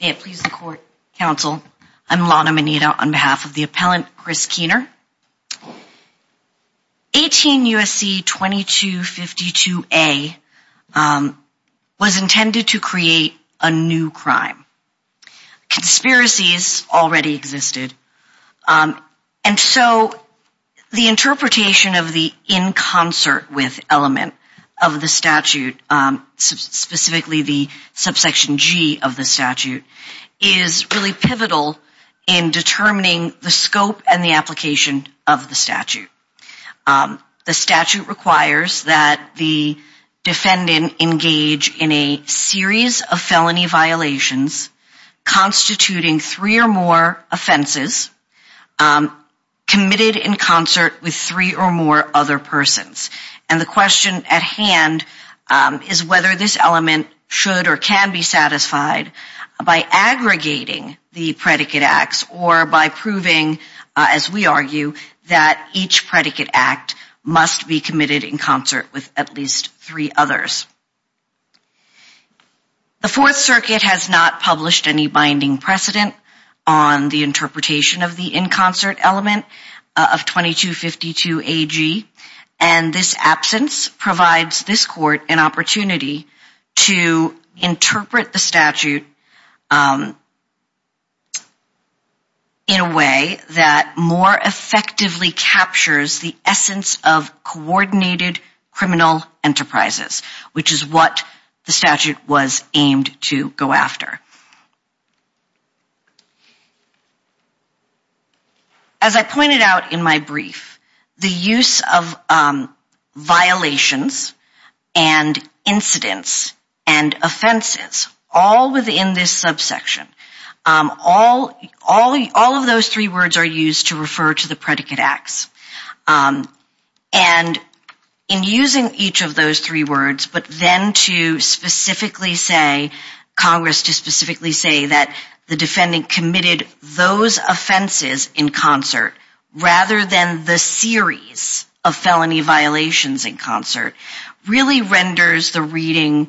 May it please the court, counsel, I'm Lana Mineta on behalf of the appellant Chris Kuehner. 18 U.S.C. 2252A was intended to create a new crime. Conspiracies already existed. And so the interpretation of the in concert with element of the statute, specifically the subsection G of the statute, is really pivotal in determining the scope and the application of the statute. The statute requires that the defendant engage in a series of felony violations constituting three or more offenses committed in concert with three or more other persons. And the question at hand is whether this element should or can be satisfied by aggregating the predicate acts or by proving, as we argue, that each predicate act must be committed in concert with at least three others. The Fourth Circuit has not published any binding precedent on the interpretation of the in concert element of 2252AG. And this absence provides this court an opportunity to interpret the statute in a way that more effectively captures the essence of coordinated criminal enterprises, which is what the statute was aimed to go after. As I pointed out in my brief, the use of violations and incidents and offenses, all within this subsection, all of those three words are used to refer to the predicate acts. And in using each of those three words, but then to specifically say, Congress to specifically say that the defendant committed those offenses in concert, rather than the series of felony violations in concert, really renders the reading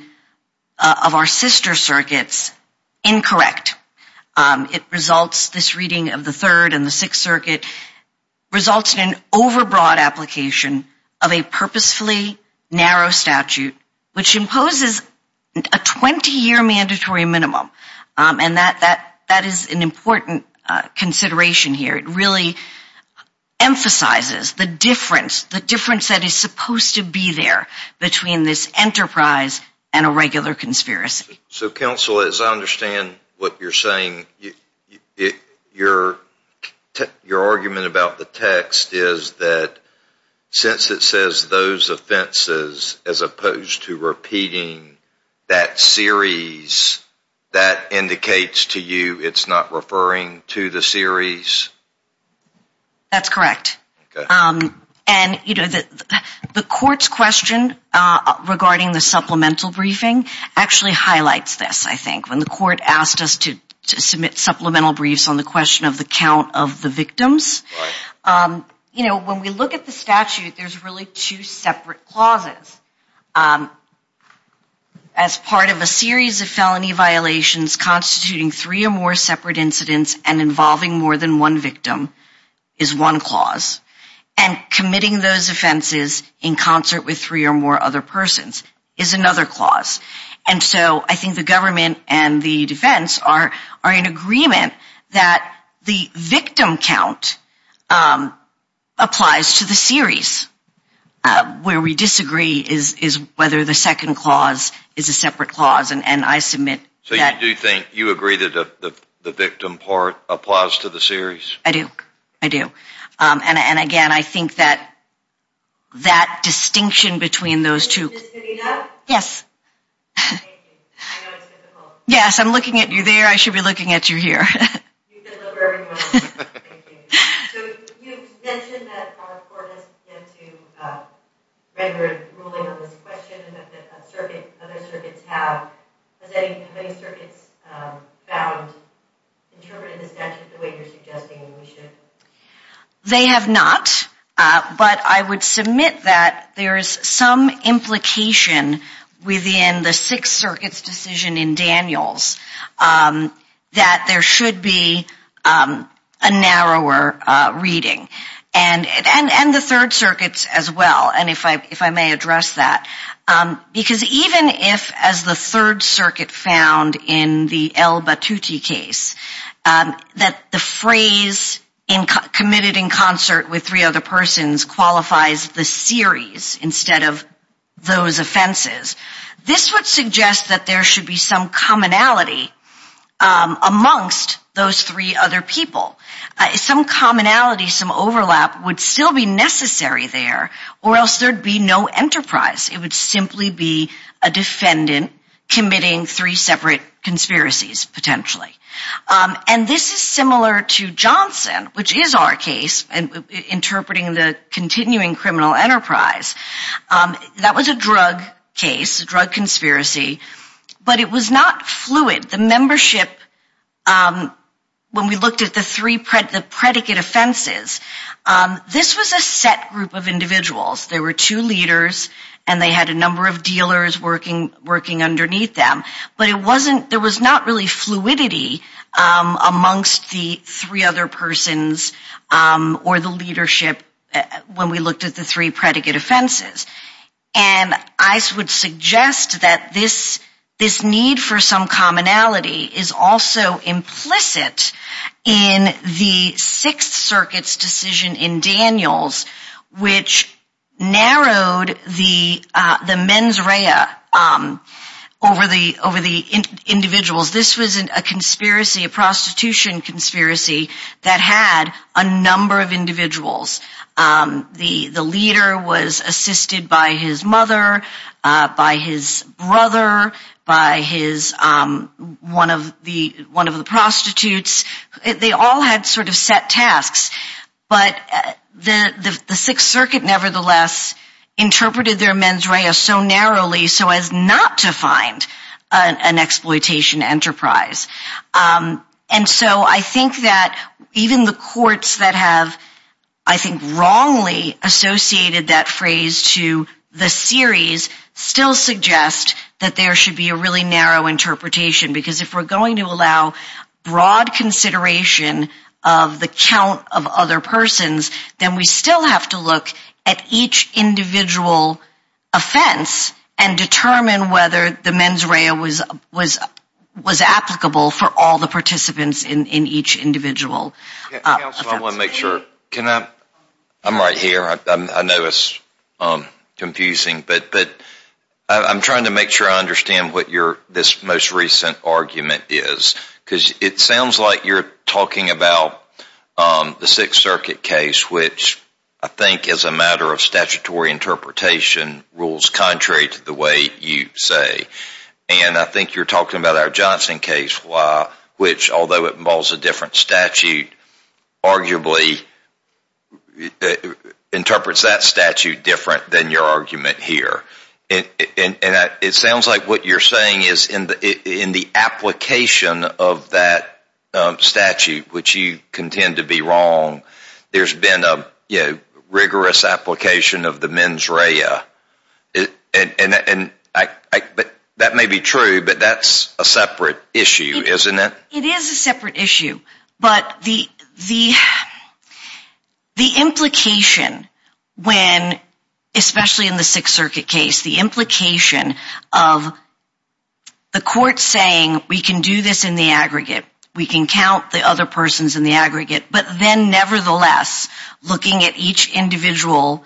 of our sister circuits incorrect. It results, this reading of the Third and the Sixth Circuit, results in an overbroad application of a purposefully narrow statute, which imposes a 20-year mandatory minimum. And that is an important consideration here. It really emphasizes the difference, the difference that is supposed to be there between this enterprise and a regular conspiracy. So counsel, as I understand what you're saying, your argument about the text is that since it says those offenses, as opposed to repeating that series, that indicates to you it's not referring to the series? That's correct. And the court's question regarding the supplemental briefing actually highlights this, I think. When the court asked us to submit supplemental briefs on the question of the count of the victims, you know, when we look at the statute, there's really two separate clauses. As part of a series of felony violations constituting three or more separate incidents and involving more than one victim is one clause. And committing those offenses in concert with three or more other persons is another clause. And so I think the government and the defense are in agreement that the victim count applies to the series. Where we disagree is whether the second clause is a separate clause. And I submit that. So you do think, you agree that the victim part applies to the series? I do. I do. And again, I think that that distinction between those two... Ms. Medina? Yes. Yes, I'm looking at you there. I should be looking at you here. You've been delivering one of those. Thank you. So you mentioned that our court has yet to render a ruling on this question and that other circuits have. Has any of the circuits found interpreting the statute the way you're suggesting we should? They have not. But I would submit that there is some implication within the Sixth Circuit's decision in Daniels that there should be a narrower reading. And the Third Circuit's as well, and if I may address that. Because even if, as the Third Circuit found in the L. Batutti case, that the phrase committed in concert with three other persons qualifies the series instead of those offenses, this would suggest that there should be some commonality amongst those three other people. Some commonality, some overlap would still be necessary there, or else there'd be no enterprise. It would simply be a defendant committing three separate conspiracies, potentially. And this is similar to Johnson, which is our case, interpreting the continuing criminal enterprise. That was a drug case, a drug conspiracy. But it was not fluid. The membership, when we looked at the three predicate offenses, this was a set group of individuals. There were two leaders and they had a number of dealers working underneath them. But there was not really fluidity amongst the three other persons or the leadership when we looked at the three predicate offenses. And I would suggest that this need for some commonality is also implicit in the Sixth Circuit's decision in Daniels, which narrowed the mens rea over the individuals. This was a prostitution conspiracy that had a number of individuals. The leader was assisted by his mother, by his brother, by one of the prostitutes. They all had sort of set tasks, but the Sixth Circuit nevertheless interpreted their mens rea so narrowly so as not to find an exploitation enterprise. And so I think that even the courts that have, I think, wrongly associated that phrase to the series still suggest that there should be a really narrow interpretation. Because if we're going to allow broad consideration of the count of other persons, then we still have to look at each individual offense and determine whether the mens rea was applicable for all the participants in each individual offense. Counsel, I want to make sure. I'm right here. I know it's confusing, but I'm trying to make sure I understand what this most recent argument is. Because it sounds like you're talking about the Sixth Circuit case, which I think as a matter of statutory interpretation rules contrary to the way you say. And I think you're talking about our Johnson case, which although it involves a different statute, arguably interprets that statute different than your argument here. And it sounds like what you're saying is in the application of that statute, which you contend to be wrong, there's been a rigorous application of the mens rea. But that may be true, but that's a separate issue, isn't it? It is a separate issue. But the implication when, especially in the Sixth Circuit case, the implication of the court saying we can do this in the aggregate, we can count the other persons in the aggregate, but then nevertheless looking at each individual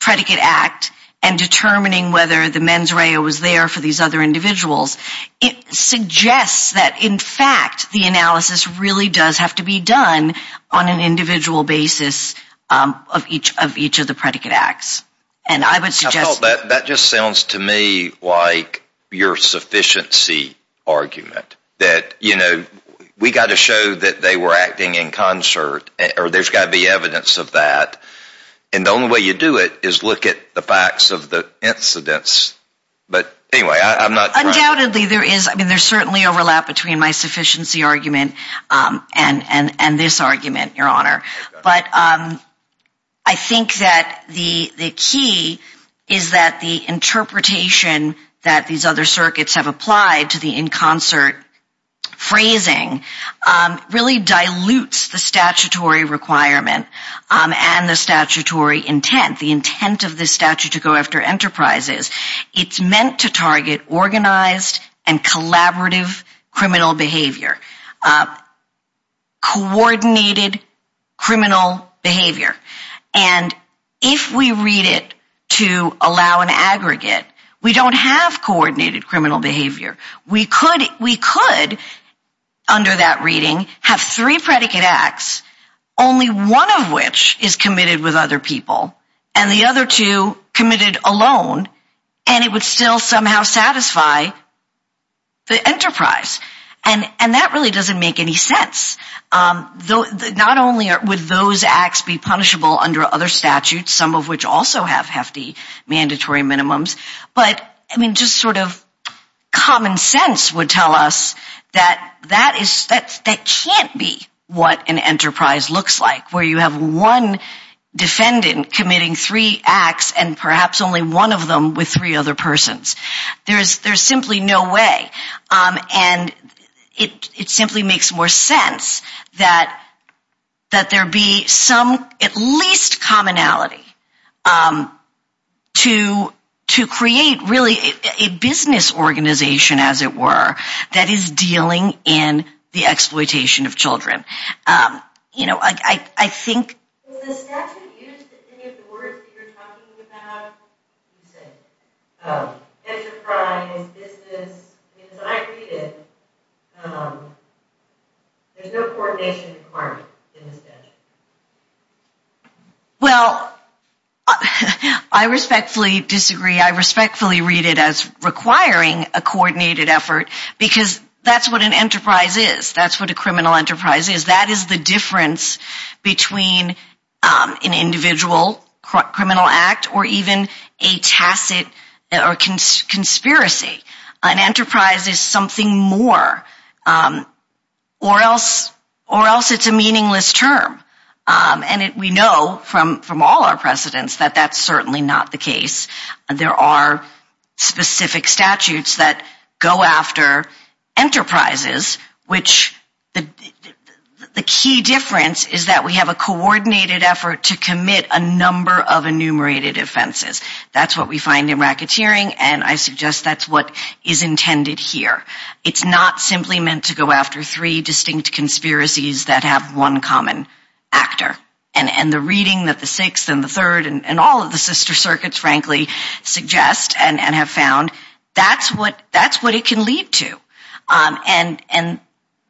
predicate act and determining whether the mens rea was there for these other individuals, it suggests that in fact the analysis really does have to be done on an individual basis of each of the predicate acts. I thought that just sounds to me like your sufficiency argument, that, you know, we got to show that they were acting in concert, or there's got to be evidence of that. And the only way you do it is look at the facts of the incidents. But anyway, I'm not. Undoubtedly, there is. I mean, there's certainly overlap between my sufficiency argument and this argument, Your Honor. But I think that the key is that the interpretation that these other circuits have applied to the in concert phrasing really dilutes the statutory requirement and the statutory intent, the intent of this statute to go after enterprises. It's meant to target organized and collaborative criminal behavior, coordinated criminal behavior. And if we read it to allow an aggregate, we don't have coordinated criminal behavior. We could, under that reading, have three predicate acts, only one of which is committed with other people, and the other two committed alone, and it would still somehow satisfy the enterprise. And that really doesn't make any sense. Not only would those acts be punishable under other statutes, some of which also have hefty mandatory minimums, but I mean, just sort of common sense would tell us that that can't be what an enterprise looks like, where you have one defendant committing three acts and perhaps only one of them with three other persons. There's simply no way. And it simply makes more sense that there be some, at least commonality, to create really a business organization, as it were, that is dealing in the exploitation of children. You know, I think... Was the statute used in any of the words that you're talking about? Enterprise, business, as I read it, there's no coordination requirement in the statute. Well, I respectfully disagree. I respectfully read it as requiring a coordinated effort, because that's what an enterprise is. That's what a criminal enterprise is. That is the difference between an individual criminal act or even a tacit or conspiracy. An enterprise is something more, or else it's a meaningless term. And we know from all our precedents that that's certainly not the case. There are specific statutes that go after enterprises, which the key difference is that we have a coordinated effort to commit a number of enumerated offenses. That's what we and I suggest that's what is intended here. It's not simply meant to go after three distinct conspiracies that have one common actor. And the reading that the Sixth and the Third and all of the sister circuits, frankly, suggest and have found, that's what it can lead to. And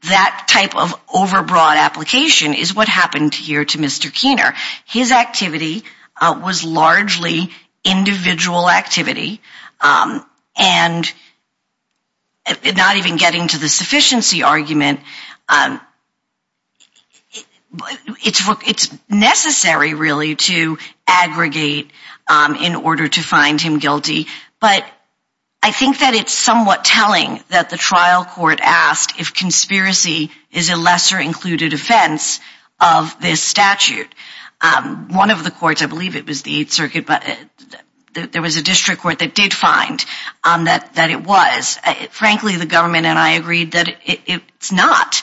that type of overbroad application is what happened here to Mr. Keener. His activity was largely individual activity. And not even getting to the sufficiency argument, it's necessary really to aggregate in order to find him guilty. But I think that it's somewhat telling that the trial court asked if conspiracy is a lesser included offense of this statute. One of the courts, I believe it was a district court that did find that it was. Frankly, the government and I agreed that it's not.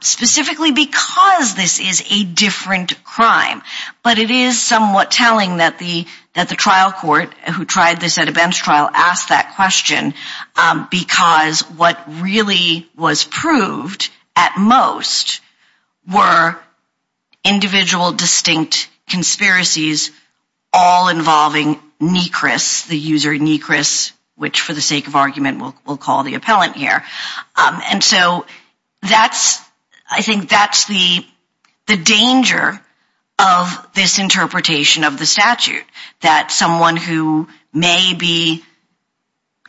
Specifically because this is a different crime. But it is somewhat telling that the trial court who tried this at a bench trial asked that question because what really was proved at most were individual distinct conspiracies all involving Nechris, the user Nechris, which for the sake of argument we'll call the appellant here. And so that's, I think that's the the danger of this interpretation of the statute. That someone who may be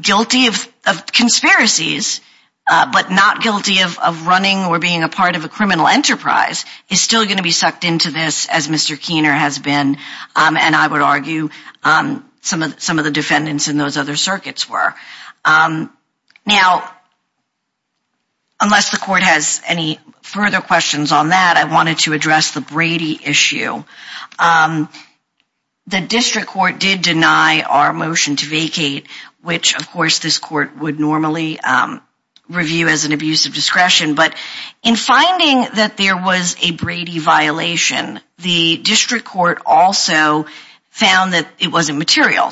guilty of conspiracies but not guilty of running or being a part of a criminal enterprise is still going to be sucked into this as Mr. Keener has been. And I would argue some of the defendants in those other circuits were. Now, unless the court has any further questions on that, I wanted to address the Brady issue. The district court did deny our motion to vacate, which of course this court would normally review as an abuse of discretion. But in finding that there was a Brady violation, the district court also found that it wasn't material.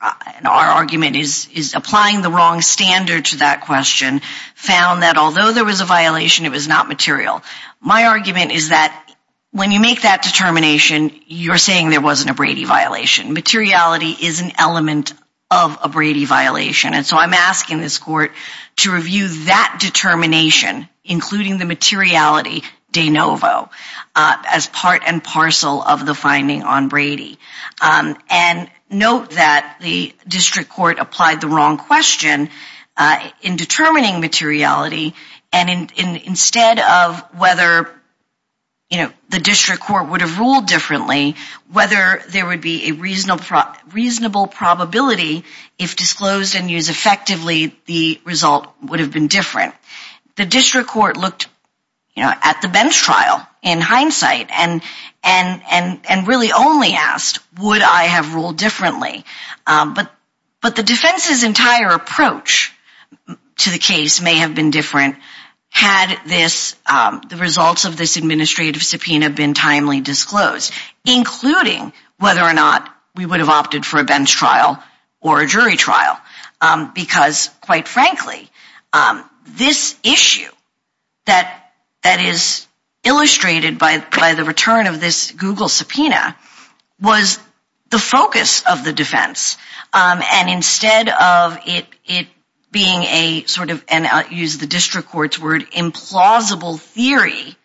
Our argument is applying the wrong standard to that question. Found that although there was a violation, it was not material. My argument is that when you make that determination, you're saying there wasn't a Brady violation. Materiality is an element of a Brady violation. And so I'm asking this court to review that determination, including the materiality de novo as part and parcel of the finding on Brady. And note that the district court applied the wrong question in determining materiality. And instead of whether the district court would have ruled differently, whether there would be a reasonable probability if disclosed and used effectively, the result would have been different. The district court looked at the bench trial in hindsight and really only asked, would I have ruled differently? But the defense's entire approach to the case may have been different had the results of this administrative subpoena been timely disclosed, including whether or not we would have opted for a bench trial or a jury trial. Because quite frankly, this issue that is illustrated by the return of this Google subpoena was the focus of the defense. And instead of it being a sort of, and I'll use the district court's word, implausible theory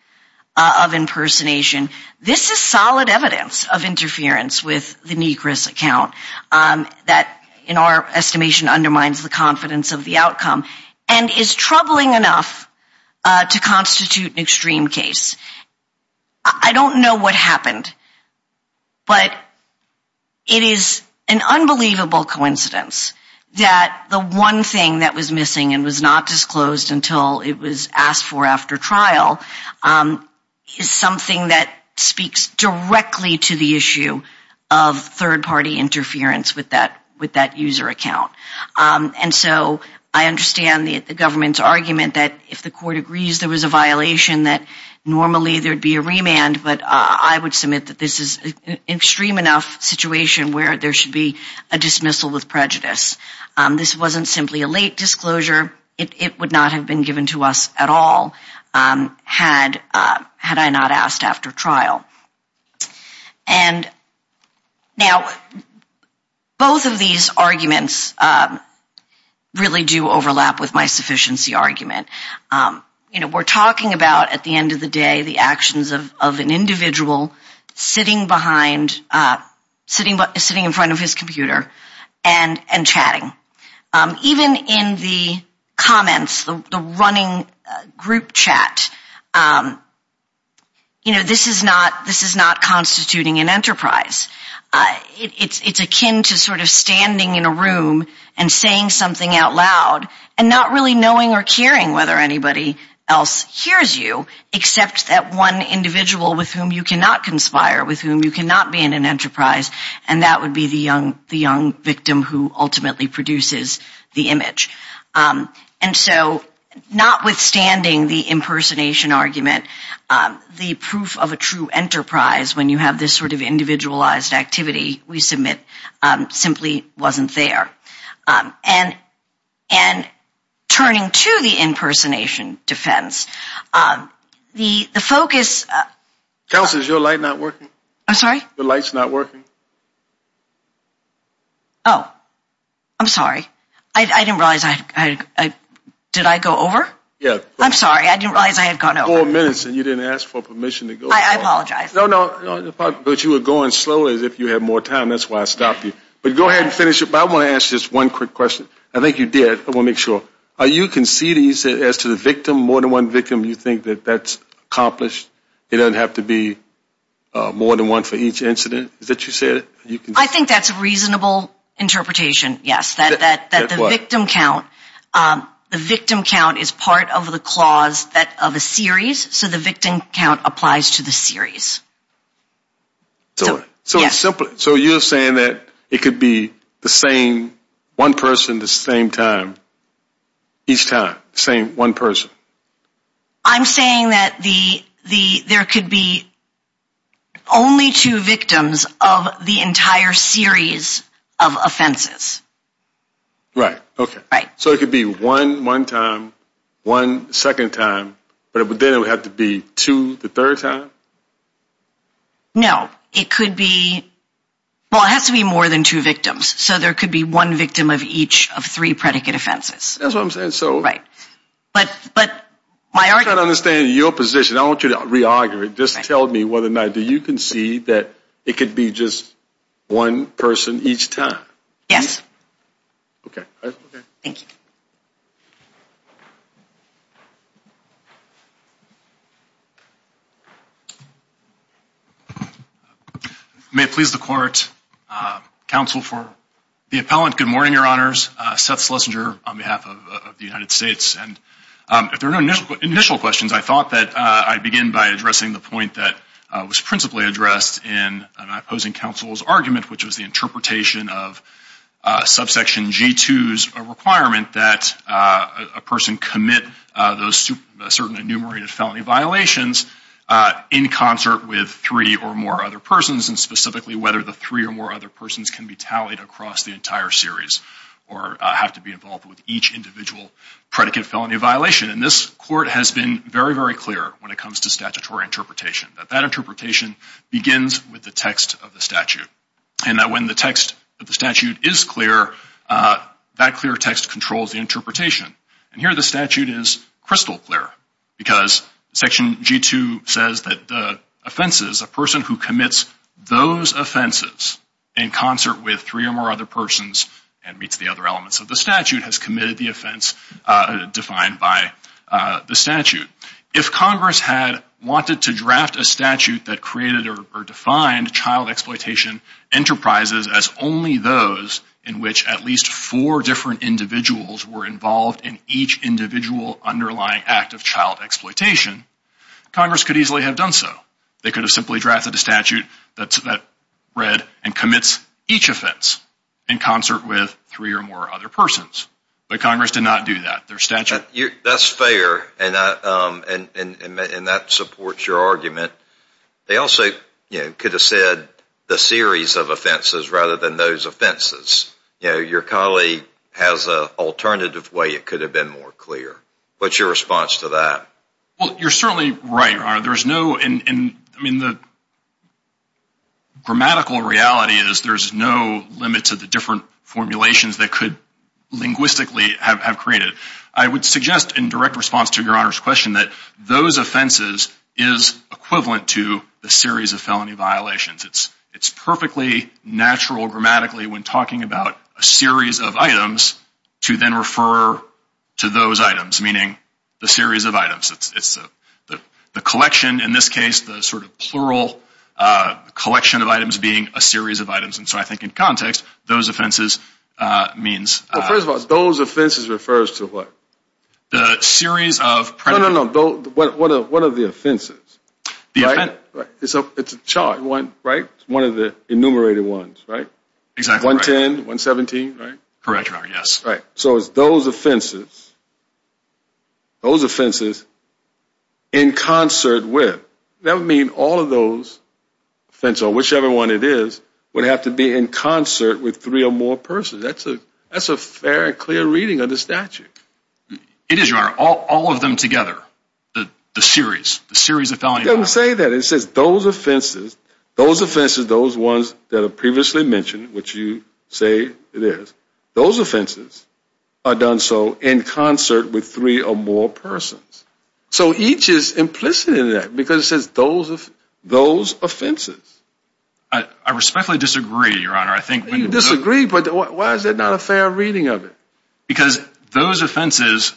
of impersonation, this is solid evidence of interference with the Negris account that in our estimation undermines the confidence of the outcome and is troubling enough to constitute an extreme case. I don't know what happened, but it is an unbelievable coincidence that the one thing that was missing and was not disclosed until it was asked for after trial is something that speaks directly to the issue of third party interference with that user account. And so I understand the government's argument that if the court agrees there was a violation that normally there would be a remand, but I would submit that this is an extreme enough situation where there should be a dismissal with prejudice. This wasn't simply a late disclosure. It would not have been given to us at all had I not asked after trial. And now, both of these arguments really do overlap with my sufficiency argument. We're talking about at the end of the day the actions of an individual sitting behind, sitting in front of his computer and chatting. Even in the comments, the running group chat, you know, this is not constituting an enterprise. It's akin to sort of standing in a room and saying something out loud and not really knowing or caring whether anybody else hears you except that one individual with whom you cannot conspire, with whom you cannot be in an enterprise, and that would be the young victim who ultimately produces the image. And so notwithstanding the impersonation argument, the proof of a true enterprise when you have this sort of individualized activity we submit simply wasn't there. And turning to the impersonation defense, the focus... Counselor, is your light not working? I'm sorry? Your light's not working. Oh. I'm sorry. I didn't realize I... Did I go over? Yeah. I'm sorry. I didn't realize I had gone over. Four minutes and you didn't ask for permission to go over. I apologize. No, no. But you were going slowly as if you had more time. That's why I stopped you. But go ahead and finish it. But I want to ask just one quick question. I think you did. I want to make sure. Are you conceding as to the victim, more than one victim, you think that that's accomplished? It doesn't have to be more than one for each incident that you said? I think that's a reasonable interpretation, yes. That the victim count is part of the clause of a series. So the victim count applies to the series. So you're saying that it could be the same one person the same time, each time, the same one person? I'm saying that there could be only two victims of the entire series of offenses. Right. Okay. Right. So it could be one one time, one second time, but then it would have to be two the third time? No. It could be... Well, it has to be more than two victims. So there could be one victim of each of three predicate offenses. That's what I'm saying. So... Right. But my argument... I'm trying to understand your position. I want you to re-argue it. Just tell me whether or not you concede that it could be just one person each time. Yes. Okay. Thank you. May it please the court, counsel for the appellant, good morning, your honors. Seth Slesinger on behalf of the United States. And if there are no initial questions, I thought that I'd begin by addressing the point that was principally addressed in an opposing counsel's argument, which was the interpretation of subsection G2's requirement that a person commit those certain enumerated felony violations in concert with three or more other persons, and specifically whether the three or more other persons can be tallied across the entire series or have to be involved with each individual predicate felony violation. And this court has been very, very clear when it comes to interpretation. That that interpretation begins with the text of the statute. And that when the text of the statute is clear, that clear text controls the interpretation. And here the statute is crystal clear because section G2 says that the offenses, a person who commits those offenses in concert with three or more other persons and meets the other elements of the statute has committed the offense defined by the statute. If Congress had wanted to draft a statute that created or defined child exploitation enterprises as only those in which at least four different individuals were involved in each individual underlying act of child exploitation, Congress could easily have done so. They could have simply drafted a statute that read and commits each offense in concert with three or more other persons. But Congress did not do that. Their statute... That's fair. And that supports your argument. They also could have said the series of offenses rather than those offenses. You know, your colleague has an alternative way it could have been more clear. What's your response to that? Well, you're certainly right, Your Honor. There's no I mean, the grammatical reality is there's no limit to the different formulations that could linguistically have created. I would suggest in direct response to Your Honor's question that those offenses is equivalent to the series of felony violations. It's perfectly natural grammatically when talking about a series of items to then refer to those items, meaning the series of items. It's the collection in this case, the sort of plural collection of items being a series of items. And so I think in context, those offenses means... First of all, those offenses refers to what? The series of... No, no, no. What are the offenses? It's a chart, right? One of the enumerated ones, right? Exactly. 110, 117, right? Correct, Your Honor. Yes. Right. So it's those offenses those offenses in concert with. That would mean all of those offenses or whichever one it is would have to be in concert with three or more persons. That's a fair and clear reading of the statute. It is, Your Honor. All of them together, the series, the series of felony... It doesn't say that. It says those offenses, those offenses, those ones that are previously mentioned, which you say it is, those offenses are done so in concert with three or more persons. So each is implicit in that because it says those offenses. I respectfully disagree, Your Honor. I think... You disagree, but why is that not a fair reading of it? Because those offenses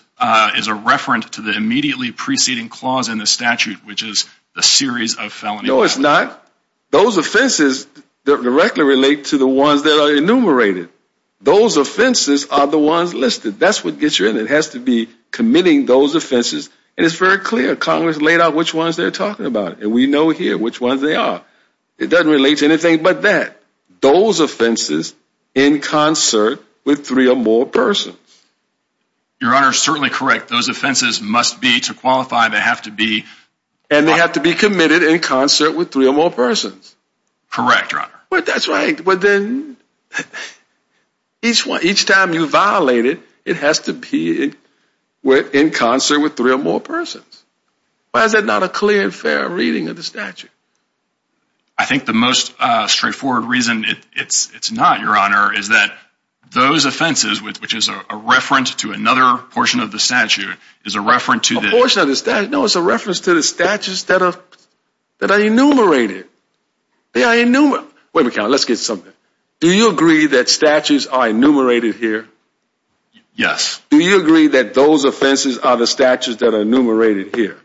is a reference to the immediately preceding clause in the statute, which is a series of felony... No, it's not. Those offenses directly relate to the ones that are enumerated. Those offenses are the ones listed. That's what gets you in. It has to be committing those offenses and it's very clear. Congress laid out which ones they're talking about and we know here which ones they are. It doesn't relate to anything but that. Those offenses in concert with three or more persons. Your Honor is certainly correct. Those offenses must be to qualify. They have to be... And they have to be committed in concert with three or more persons. Correct, Your Honor. But that's right. But then each time you violate it, it has to be in concert with three or more persons. Why is that not a clear and fair reading of the statute? I think the most straightforward reason it's not, Your Honor, is that those offenses, which is a reference to another portion of the statute, is a reference to the... A portion of the statute? No, it's a They are enumerated. Wait a minute, let's get something. Do you agree that statutes are enumerated here? Yes. Do you agree that those offenses are the statutes that are enumerated here?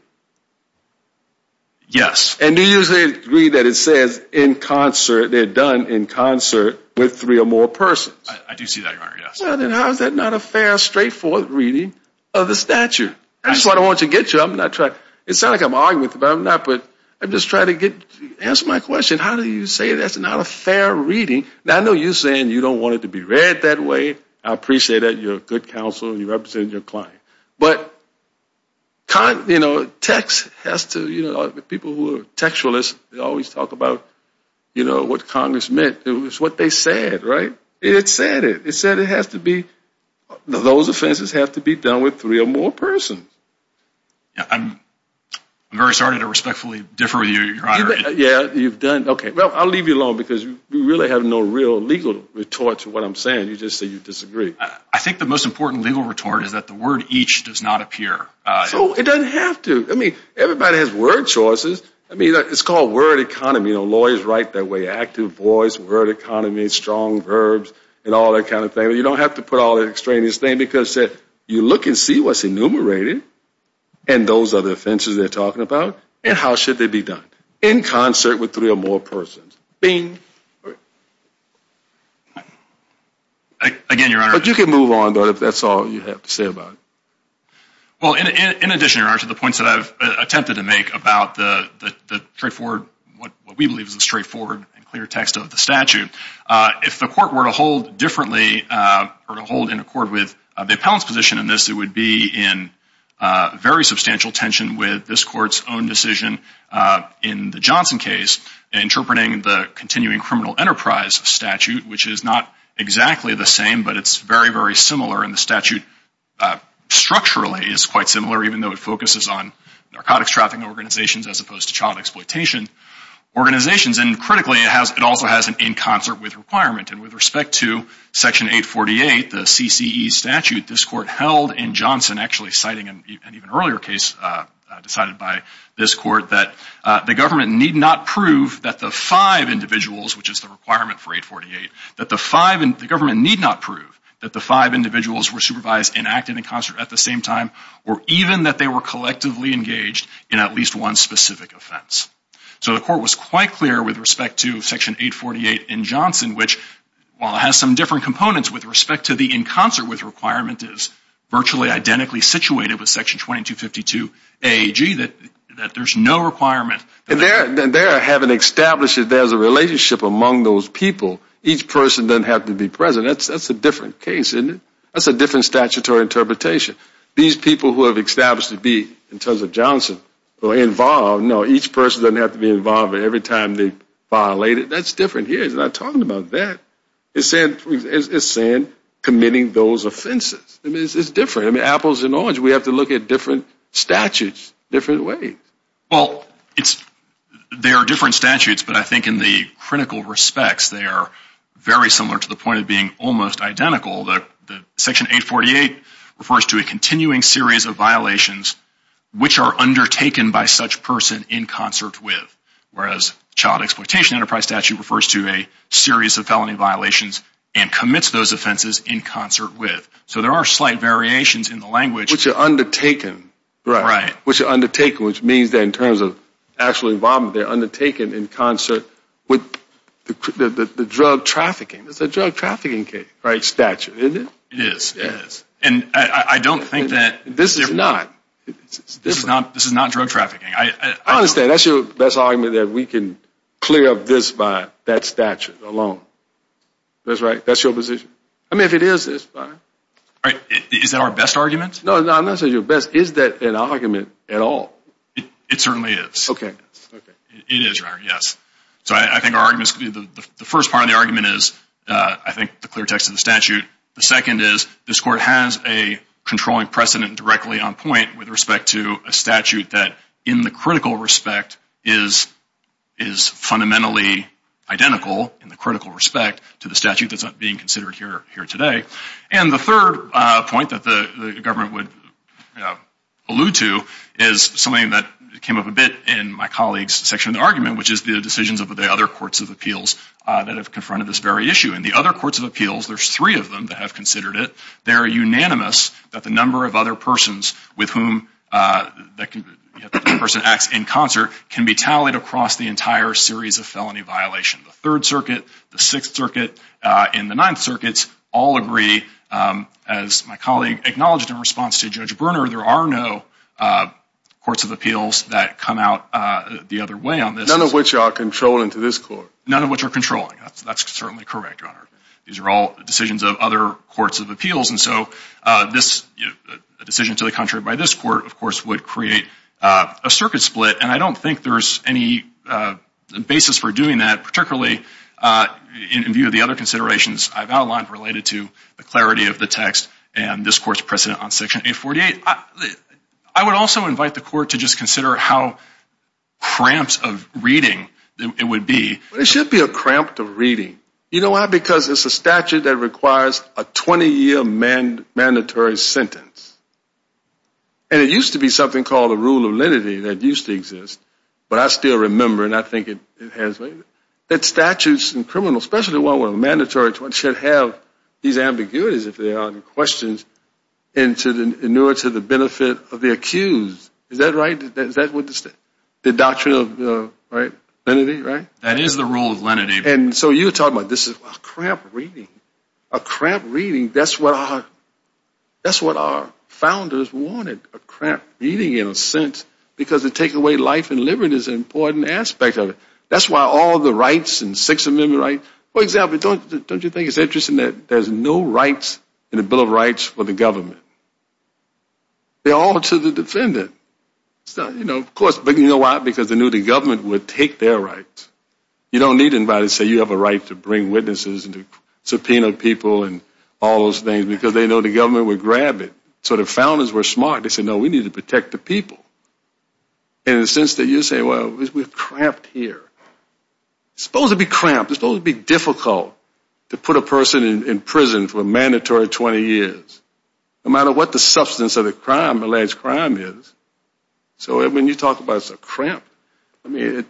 Yes. And do you agree that it says in concert, they're done in concert with three or more persons? I do see that, Your Honor, yes. Then how is that not a fair, straightforward reading of the statute? That's what I want to get to. I'm not trying... It sounds like I'm arguing with you, but I'm not, but I'm just trying to get... Answer my question. How do you say that's not a fair reading? Now, I know you're saying you don't want it to be read that way. I appreciate that. You're a good counsel. You represent your client. But, you know, text has to, you know, the people who are textualists, they always talk about, you know, what Congress meant. It was what they said, right? It said it. It said it has to be... Those offenses have to be done with three or more persons. Yeah, I'm very sorry to respectfully differ with you, Your Honor. Yeah, you've done... Okay, well, I'll leave you alone because you really have no real legal retort to what I'm saying. You just say you disagree. I think the most important legal retort is that the word each does not appear. So, it doesn't have to. I mean, everybody has word choices. I mean, it's called word economy. You know, lawyers write that way. Active voice, word economy, strong verbs, and all that kind of thing. You don't have to put all that extraneous thing because you look and see what's enumerated, and those are the offenses they're talking about, and how should they be done in concert with three or more persons. Again, Your Honor... But you can move on, though, if that's all you have to say about it. Well, in addition, Your Honor, to the points that I've attempted to make about the straightforward, what we believe is the straightforward and clear text of the statute, if the court were to hold differently or to hold in accord with the appellant's position in this, it would be in very substantial tension with this court's own decision in the Johnson case interpreting the continuing criminal enterprise statute, which is not exactly the same, but it's very, very similar, and the statute structurally is quite similar, even though it focuses on narcotics trafficking organizations as opposed to child exploitation organizations. And critically, it also has an in concert with requirement, and with respect to Section 848, the CCE statute this court held in Johnson, actually citing an even earlier case decided by this court, that the government need not prove that the five individuals, which is the requirement for 848, that the government need not prove that the five individuals were supervised and acted in concert at the same time, or even that they were collectively engaged in at least one specific offense. So the court was quite clear with respect to Section 848 in Johnson, which, while it has some different components with respect to the in concert with requirement, is virtually identically situated with Section 2252AG, that there's no requirement. And there, having established that there's a relationship among those people, each person doesn't have to be present. That's a different case, isn't it? That's a different statutory interpretation. These people who have established to be, in terms of Johnson, who are involved, no, each person doesn't have to be involved, but every time they violate it, that's different here. It's not talking about that. It's saying committing those offenses. I mean, it's different. I mean, apples and oranges. We have to look at different statutes, different ways. Well, it's, there are different statutes, but I think in the critical respects, they are very similar to the point of being almost identical. The Section 848 refers to a continuing series of violations which are undertaken by such person in concert with, whereas Child Exploitation Enterprise Statute refers to a series of felony violations and commits those offenses in concert with. So there are slight variations in the language. Which are undertaken. Right. Which are undertaken, which means that in terms of actual involvement, they're undertaken in concert with the drug trafficking. It's a drug trafficking case, right, statute, isn't it? It is. And I don't think that... This is not. This is not drug trafficking. I understand. That's your best argument that we can clear up this by that statute alone. That's right? That's your position? I mean, if it is, it's fine. Right. Is that our best argument? No, no, I'm not saying your best. Is that an argument at all? It certainly is. Okay. It is. Yes. So I think our argument is, the first part of the argument is, I think, the clear text of the statute. The second is, this court has a controlling precedent directly on point with respect to a statute that in the critical respect is fundamentally identical in the critical respect to the statute that's being considered here today. And the third point that the government would allude to is something that came up a bit in my colleague's section of the argument, which is the decisions of the other courts of appeals that have confronted this very issue. And the other courts of appeals, there's three of them that have considered it. They're unanimous that the number of other persons with whom that person acts in concert can be tallied across the entire series of felony violation. The Third Circuit, the Sixth Circuit, and the Ninth Circuits all agree, as my colleague acknowledged in response to Judge Bruner, there are no courts of appeals that come out the other way on this. None of which are controlling to this court. None of which are controlling. That's certainly correct, Your Honor. These are all decisions of other courts of appeals. And so this decision to the contrary by this court, of course, would create a circuit split. And I don't think there's any basis for doing that, particularly in view of the other considerations I've outlined related to the clarity of the text and this court's precedent on Section 848. I would also invite the court to just consider how cramped of reading it would be. It should be a cramped reading. You know why? Because it's a statute that requires a 20-year mandatory sentence. And it used to be something called a rule of lenity that used to exist. But I still remember, and I think it has, that statutes and criminals, especially one with a mandatory sentence, should have these ambiguities, if there are any questions, in order to the benefit of the accused. Is that right? Is that what the doctrine of, right, lenity, right? That is the rule of lenity. And so you're talking about this is a cramped reading. A cramped reading, that's what our founders wanted, a cramped reading in a sense, because to take away life and liberty is an important aspect of it. That's why all the rights and Sixth Amendment rights, for example, don't you think it's interesting that there's no rights in the Bill of Rights for the government? They're all to the defendant. It's not, you know, of course, but you know why? Because they knew the government would take their rights. You don't need anybody to say you have a right to bring witnesses and to subpoena people and all those things, because they know the government would grab it. So the founders were smart. They said, no, we need to protect the people. And in a sense that you say, well, we're cramped here. It's supposed to be cramped. It's supposed to be difficult to put a person in prison for a mandatory 20 years, no matter what the substance of the crime, alleged crime is. So when you talk about it's a cramp, I mean,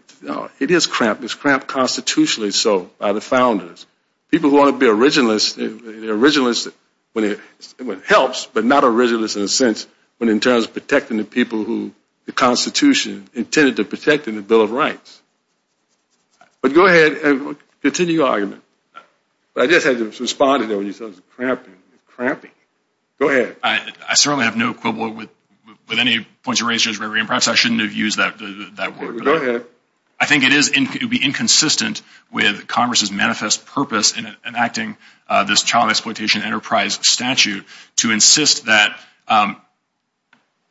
it is cramped. It's cramped constitutionally so by the founders. People who want to be originalists, they're originalists when it helps, but not originalists in a sense when in terms of protecting the people who the Constitution intended to protect in the Bill of Rights. But go ahead and continue your argument. But I just had to respond to that when you said it was cramping. It's cramping. Go ahead. I certainly have no quibble with any points you raised, Judge McRae. And perhaps I shouldn't have used that word. I think it would be inconsistent with Congress's manifest purpose in enacting this child exploitation enterprise statute to insist that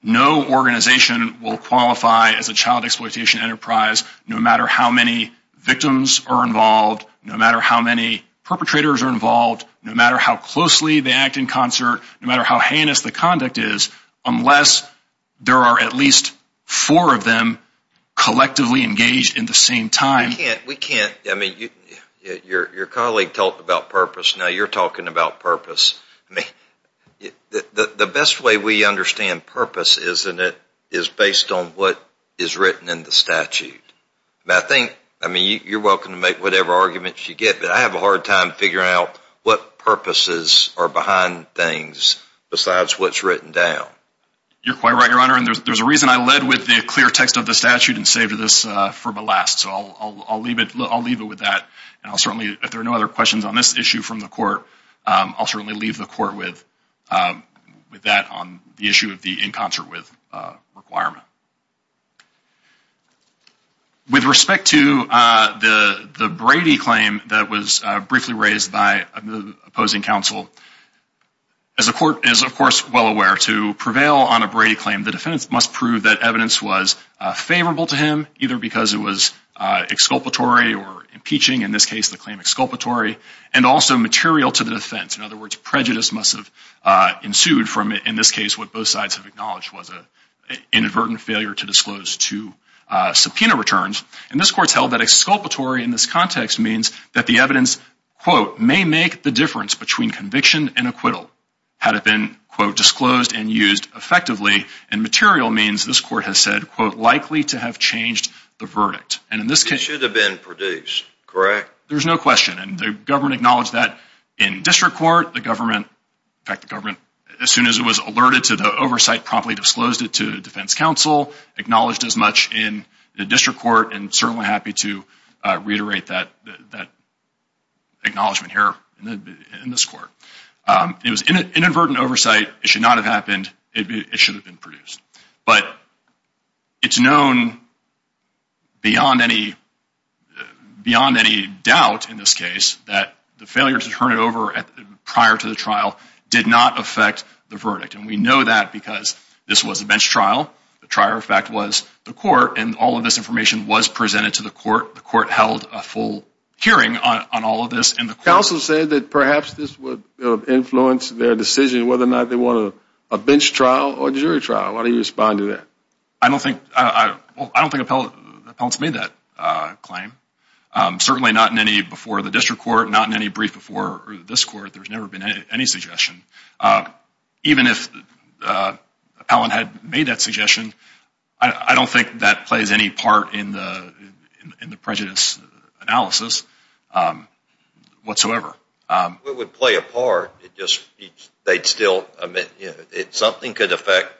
no organization will qualify as a child exploitation enterprise, no matter how many victims are involved, no matter how many perpetrators are involved, no matter how closely they act in concert, no matter how heinous the conduct is, unless there are at least four of them collectively engaged in the same time. We can't. I mean, your colleague talked about purpose. Now you're talking about purpose. I mean, the best way we understand purpose is based on what is written in the statute. But I think, I mean, you're welcome to make whatever arguments you get, but I have a hard time figuring out what purposes are behind things besides what's written down. You're quite right, Your Honor. And there's a reason I led with the clear text of the statute and saved this for the last. So I'll leave it with that. And I'll certainly, if there are no other questions on this issue from the court, I'll certainly leave the court with that on the issue of the in concert with requirement. With respect to the Brady claim that was briefly raised by the opposing counsel, as the court is, of course, well aware, to prevail on a Brady claim, the defense must prove that evidence was favorable to him, either because it was exculpatory or impeaching, in this case, the claim exculpatory, and also material to the defense. In other words, prejudice must have ensued from, in this case, what both sides have acknowledged was an inadvertent failure to disclose two subpoena returns. And this court's held that exculpatory in this context means that the evidence, quote, may make the difference between conviction and acquittal, had it been, quote, disclosed and used effectively. And material means, this court has said, quote, likely to have changed the verdict. And in this case- It should have been produced, correct? There's no question. And the government acknowledged that in district court. The government, in fact, the government, as soon as it was alerted to the oversight, promptly disclosed it to the defense counsel, acknowledged as much in the district court, and certainly happy to reiterate that acknowledgement here in this court. It was inadvertent oversight. It should not have happened. It should have been produced. But it's known beyond any doubt, in this case, that the failure to turn it over prior to the trial did not affect the verdict. And we know that because this was a bench trial. The prior effect was the court. And all of this information was presented to the court. The court held a full hearing on all of this. And the counsel said that perhaps this would influence their decision, whether or not they want a bench trial or jury trial. How do you respond to that? I don't think appellants made that claim. Certainly not in any before the district court, not in any brief before this court. There's never been any suggestion. Even if an appellant had made that suggestion, I don't think that plays any part in the prejudice analysis whatsoever. It would play a part. Something could affect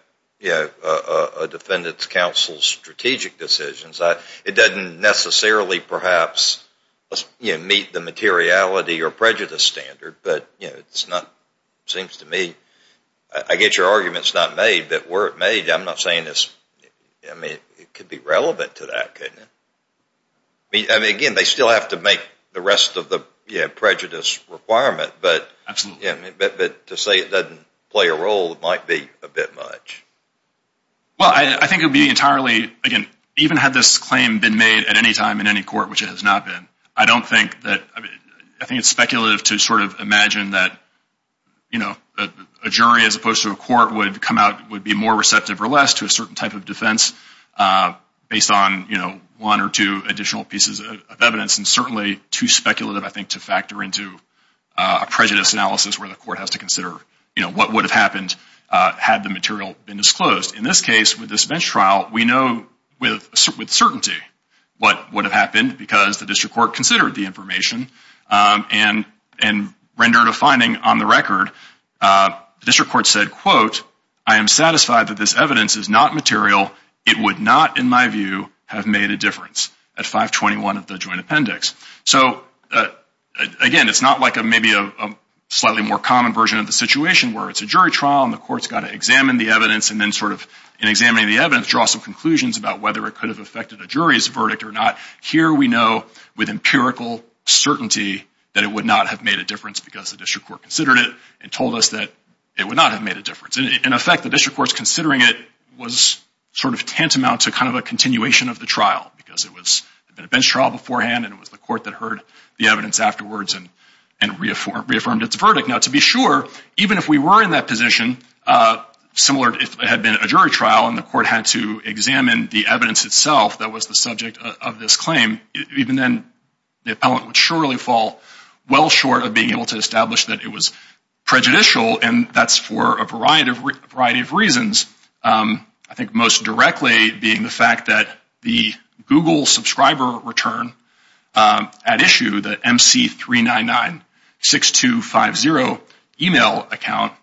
a defendant's counsel's strategic decisions. It doesn't necessarily perhaps meet the materiality or prejudice standard. But it seems to me, I get your arguments not made, but were it made, I'm not saying it could be relevant to that. Again, they still have to make the rest of the prejudice requirement. But to say it doesn't play a role might be a bit much. Well, I think it would be entirely, again, even had this claim been made at any time in any court, which it has not been, I don't think that, I think it's speculative to sort of imagine that you know, a jury as opposed to a court would come out, would be more receptive or less to a certain type of defense based on, you know, one or two additional pieces of evidence. And certainly too speculative, I think, to factor into a prejudice analysis where the court has to consider, you know, what would have happened had the material been disclosed. In this case, with this bench trial, we know with certainty what would have happened because the district court considered the information and rendered a finding on the record. The district court said, quote, I am satisfied that this evidence is not material. It would not, in my view, have made a difference at 521 of the joint appendix. So again, it's not like maybe a slightly more common version of the situation where it's a jury trial and the court's got to examine the evidence and then sort of, in examining the evidence, draw some conclusions about whether it could have affected a jury's verdict or not. Here we know with empirical certainty that it would not have made a difference because the district court considered it and told us that it would not have made a difference. In effect, the district court's considering it was sort of tantamount to kind of a continuation of the trial because it was a bench trial beforehand and it was the court that heard the evidence afterwards and reaffirmed its verdict. Now, to be sure, even if we were in that position, similar if it had been a jury trial and the court had to examine the evidence itself that was the subject of this claim, even then the appellant would surely fall well short of being able to establish that it was prejudicial and that's for a variety of reasons. I think most directly being the fact that the Google subscriber return at issue, the MC3996250 email account,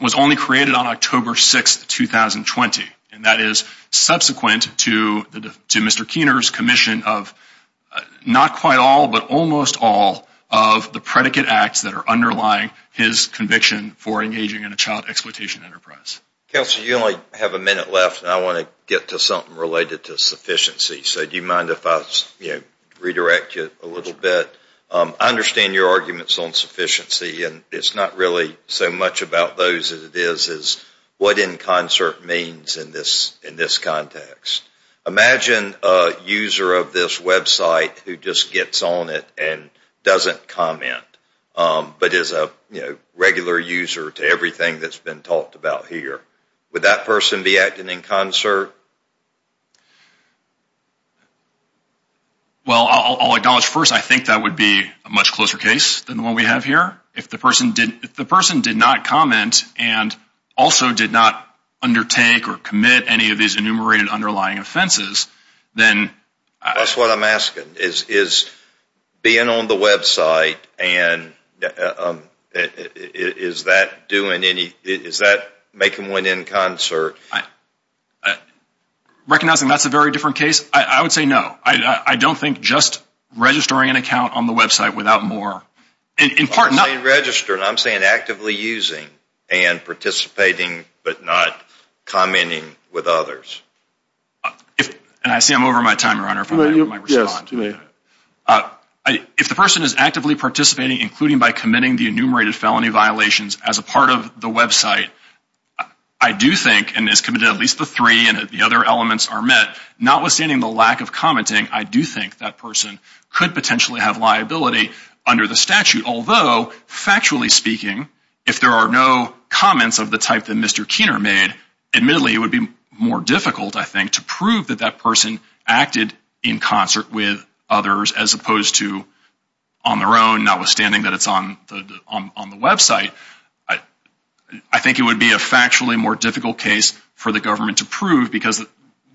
was only created on October 6th, 2020. And that is subsequent to Mr. Keener's commission of not quite all but almost all of the predicate acts that are underlying his conviction for engaging in a child exploitation enterprise. Counselor, you only have a minute left and I want to get to something related to sufficiency. So do you mind if I redirect you a little bit? I understand your arguments on sufficiency and it's not really so much about those as it is what in concert means in this context. Imagine a user of this website who just gets on it and doesn't comment but is a regular user to everything that's been talked about here. Would that person be acting in concert? Well, I'll acknowledge first, I think that would be a much closer case than the one we have here. If the person did not comment and also did not undertake or commit any of these enumerated underlying offenses, then... That's what I'm asking, is being on the website and is that doing any, is that making one in concert? Recognizing that's a very different case, I would say no. I don't think just registering an account on the website without more, in part... I'm not saying register, I'm saying actively using and participating but not commenting with others. And I see I'm over my time, Your Honor, if I may respond to that. If the person is actively participating, including by committing the enumerated felony violations as a part of the website, I do think, and has committed at least the three and the other elements are met, notwithstanding the lack of commenting, I do think that person could potentially have liability under the statute, although, factually speaking, if there are no comments of the type that Mr. Keener made, admittedly, it would be more difficult, I think, to prove that that person acted in concert with others as opposed to on their own, notwithstanding that it's on the website. I think it would be a factually more difficult case for the government to prove because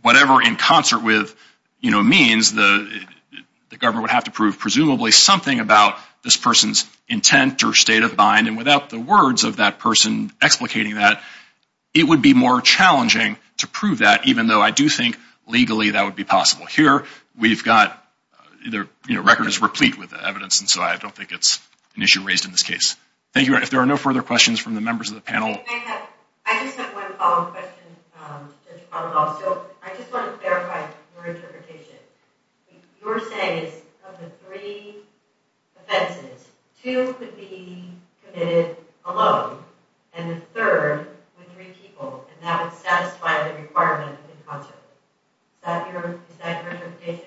whatever in concert with means, the government would have to prove, presumably, something about this person's intent or state of mind and without the words of that person explicating that, it would be more challenging to prove that, even though I do think, legally, that would be possible. Here, we've got either, you know, records replete with evidence and so I don't think it's an issue raised in this case. Thank you, Your Honor. If there are no further questions from the members of the panel. Can I have, I just have one follow-up question, Judge Arnold, also. I just want to clarify your interpretation. Your saying is of the three offenses, two could be committed alone and the third with three people and that would satisfy the requirement in concert. Is that your interpretation?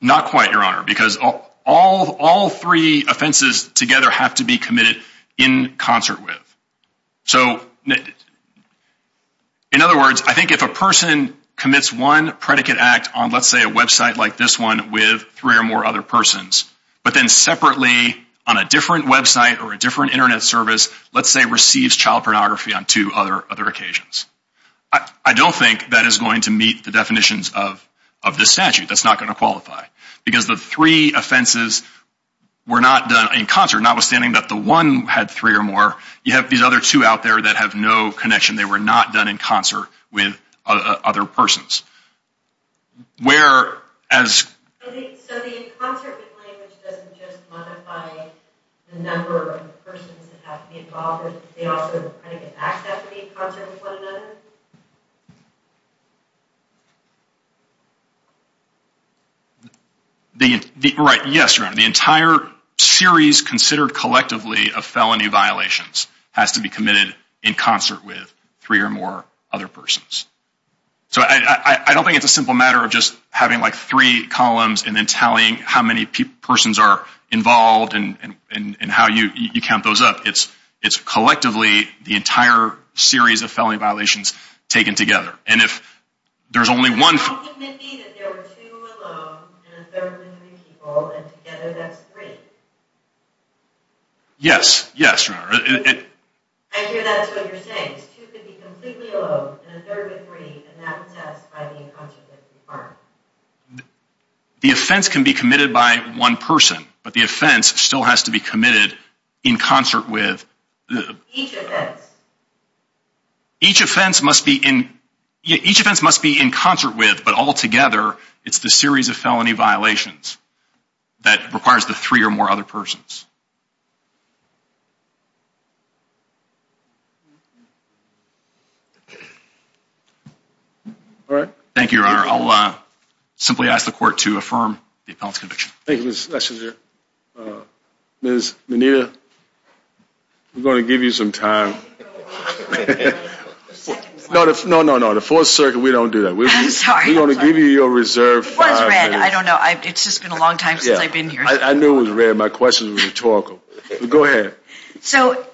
Not quite, Your Honor, because all three offenses together have to be committed in concert with. So, in other words, I think if a person commits one predicate act on, let's say, a website like this one with three or more other persons, but then separately on a different website or a different internet service, let's say, receives child pornography on two other occasions. I don't think that is going to meet the definitions of this statute. That's not going to qualify because the three offenses were not done in concert, notwithstanding that the one had three or more. You have these other two out there that have no connection. They were not done in concert with other persons. Whereas... I think, so the in concert with language doesn't just modify the number of persons that have to be involved with, they also predicate act that would be in concert with one another? The, right, yes, Your Honor. The entire series considered collectively of felony violations has to be committed in concert with three or more other persons. So, I don't think it's a simple matter of just having like three columns and then tallying how many people, persons are involved and how you count those up. It's collectively the entire series of felony violations taken together. And if there's only one... Yes, yes, Your Honor. The offense can be committed by one person, but the offense still has to be committed in concert with... Each offense must be in, each offense must be in concert with, but all together, it's the series of felony violations that requires the three or more other persons. All right. Thank you, Your Honor. I'll simply ask the court to affirm the appellant's conviction. Thank you, Ms. Schlesinger. Ms. Menita, we're going to give you some time. No, no, no, no. The Fourth Circuit, we don't do that. I'm sorry. We're going to give you your reserve. It was red. I don't know. It's just been a long time since I've been here. I knew it was red. My questions were rhetorical. Go ahead. So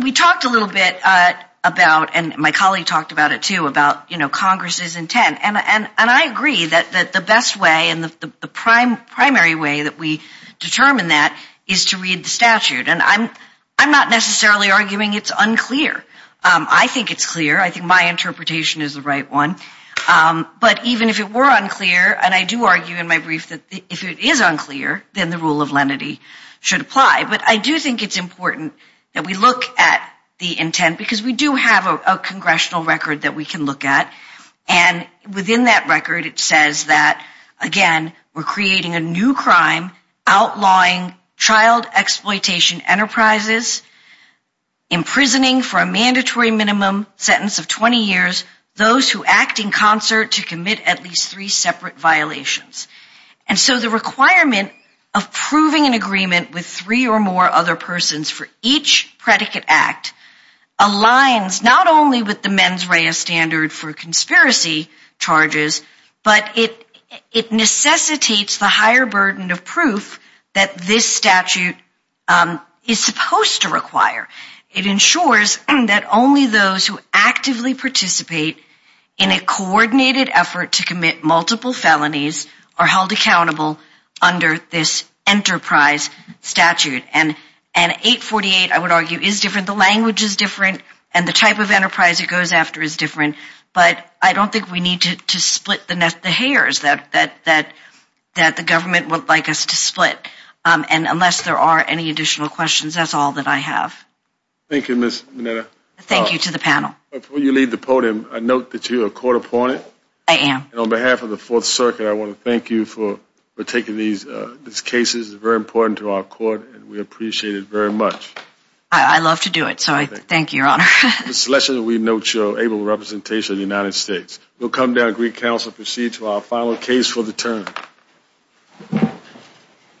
we talked a little bit about, and my colleague talked about it too, about Congress's intent. And I agree that the best way and the primary way that we determine that is to read the statute. And I'm not necessarily arguing it's unclear. I think it's clear. I think my interpretation is the right one. But even if it were unclear, and I do argue in my brief that if it is unclear, then the rule of lenity should apply. But I do think it's important that we look at the intent because we do have a congressional record that we can look at. And within that record, it says that, again, we're creating a new crime outlawing child exploitation enterprises, imprisoning for a mandatory minimum sentence of 20 years, those who act in concert to commit at least three separate violations. And so the requirement of proving an agreement with three or more other persons for each predicate act aligns not only with the mens rea standard for conspiracy charges, but it necessitates the higher burden of proof that this statute is supposed to require. It ensures that only those who actively participate in a coordinated effort to commit multiple felonies are held accountable under this enterprise statute. And 848, I would argue, is different. The language is different, and the type of enterprise it goes after is different. But I don't think we need to split the hairs that the government would like us to split. And unless there are any additional questions, that's all that I have. Thank you, Ms. Mineta. Thank you to the panel. Before you leave the podium, I note that you're a court opponent. I am. On behalf of the Fourth Circuit, I want to thank you for taking these cases. It's very important to our court, and we appreciate it very much. I love to do it, so I thank you, Your Honor. Ms. Schlesinger, we note your able representation of the United States. We'll come down to Greek Council and proceed to our final case for the term.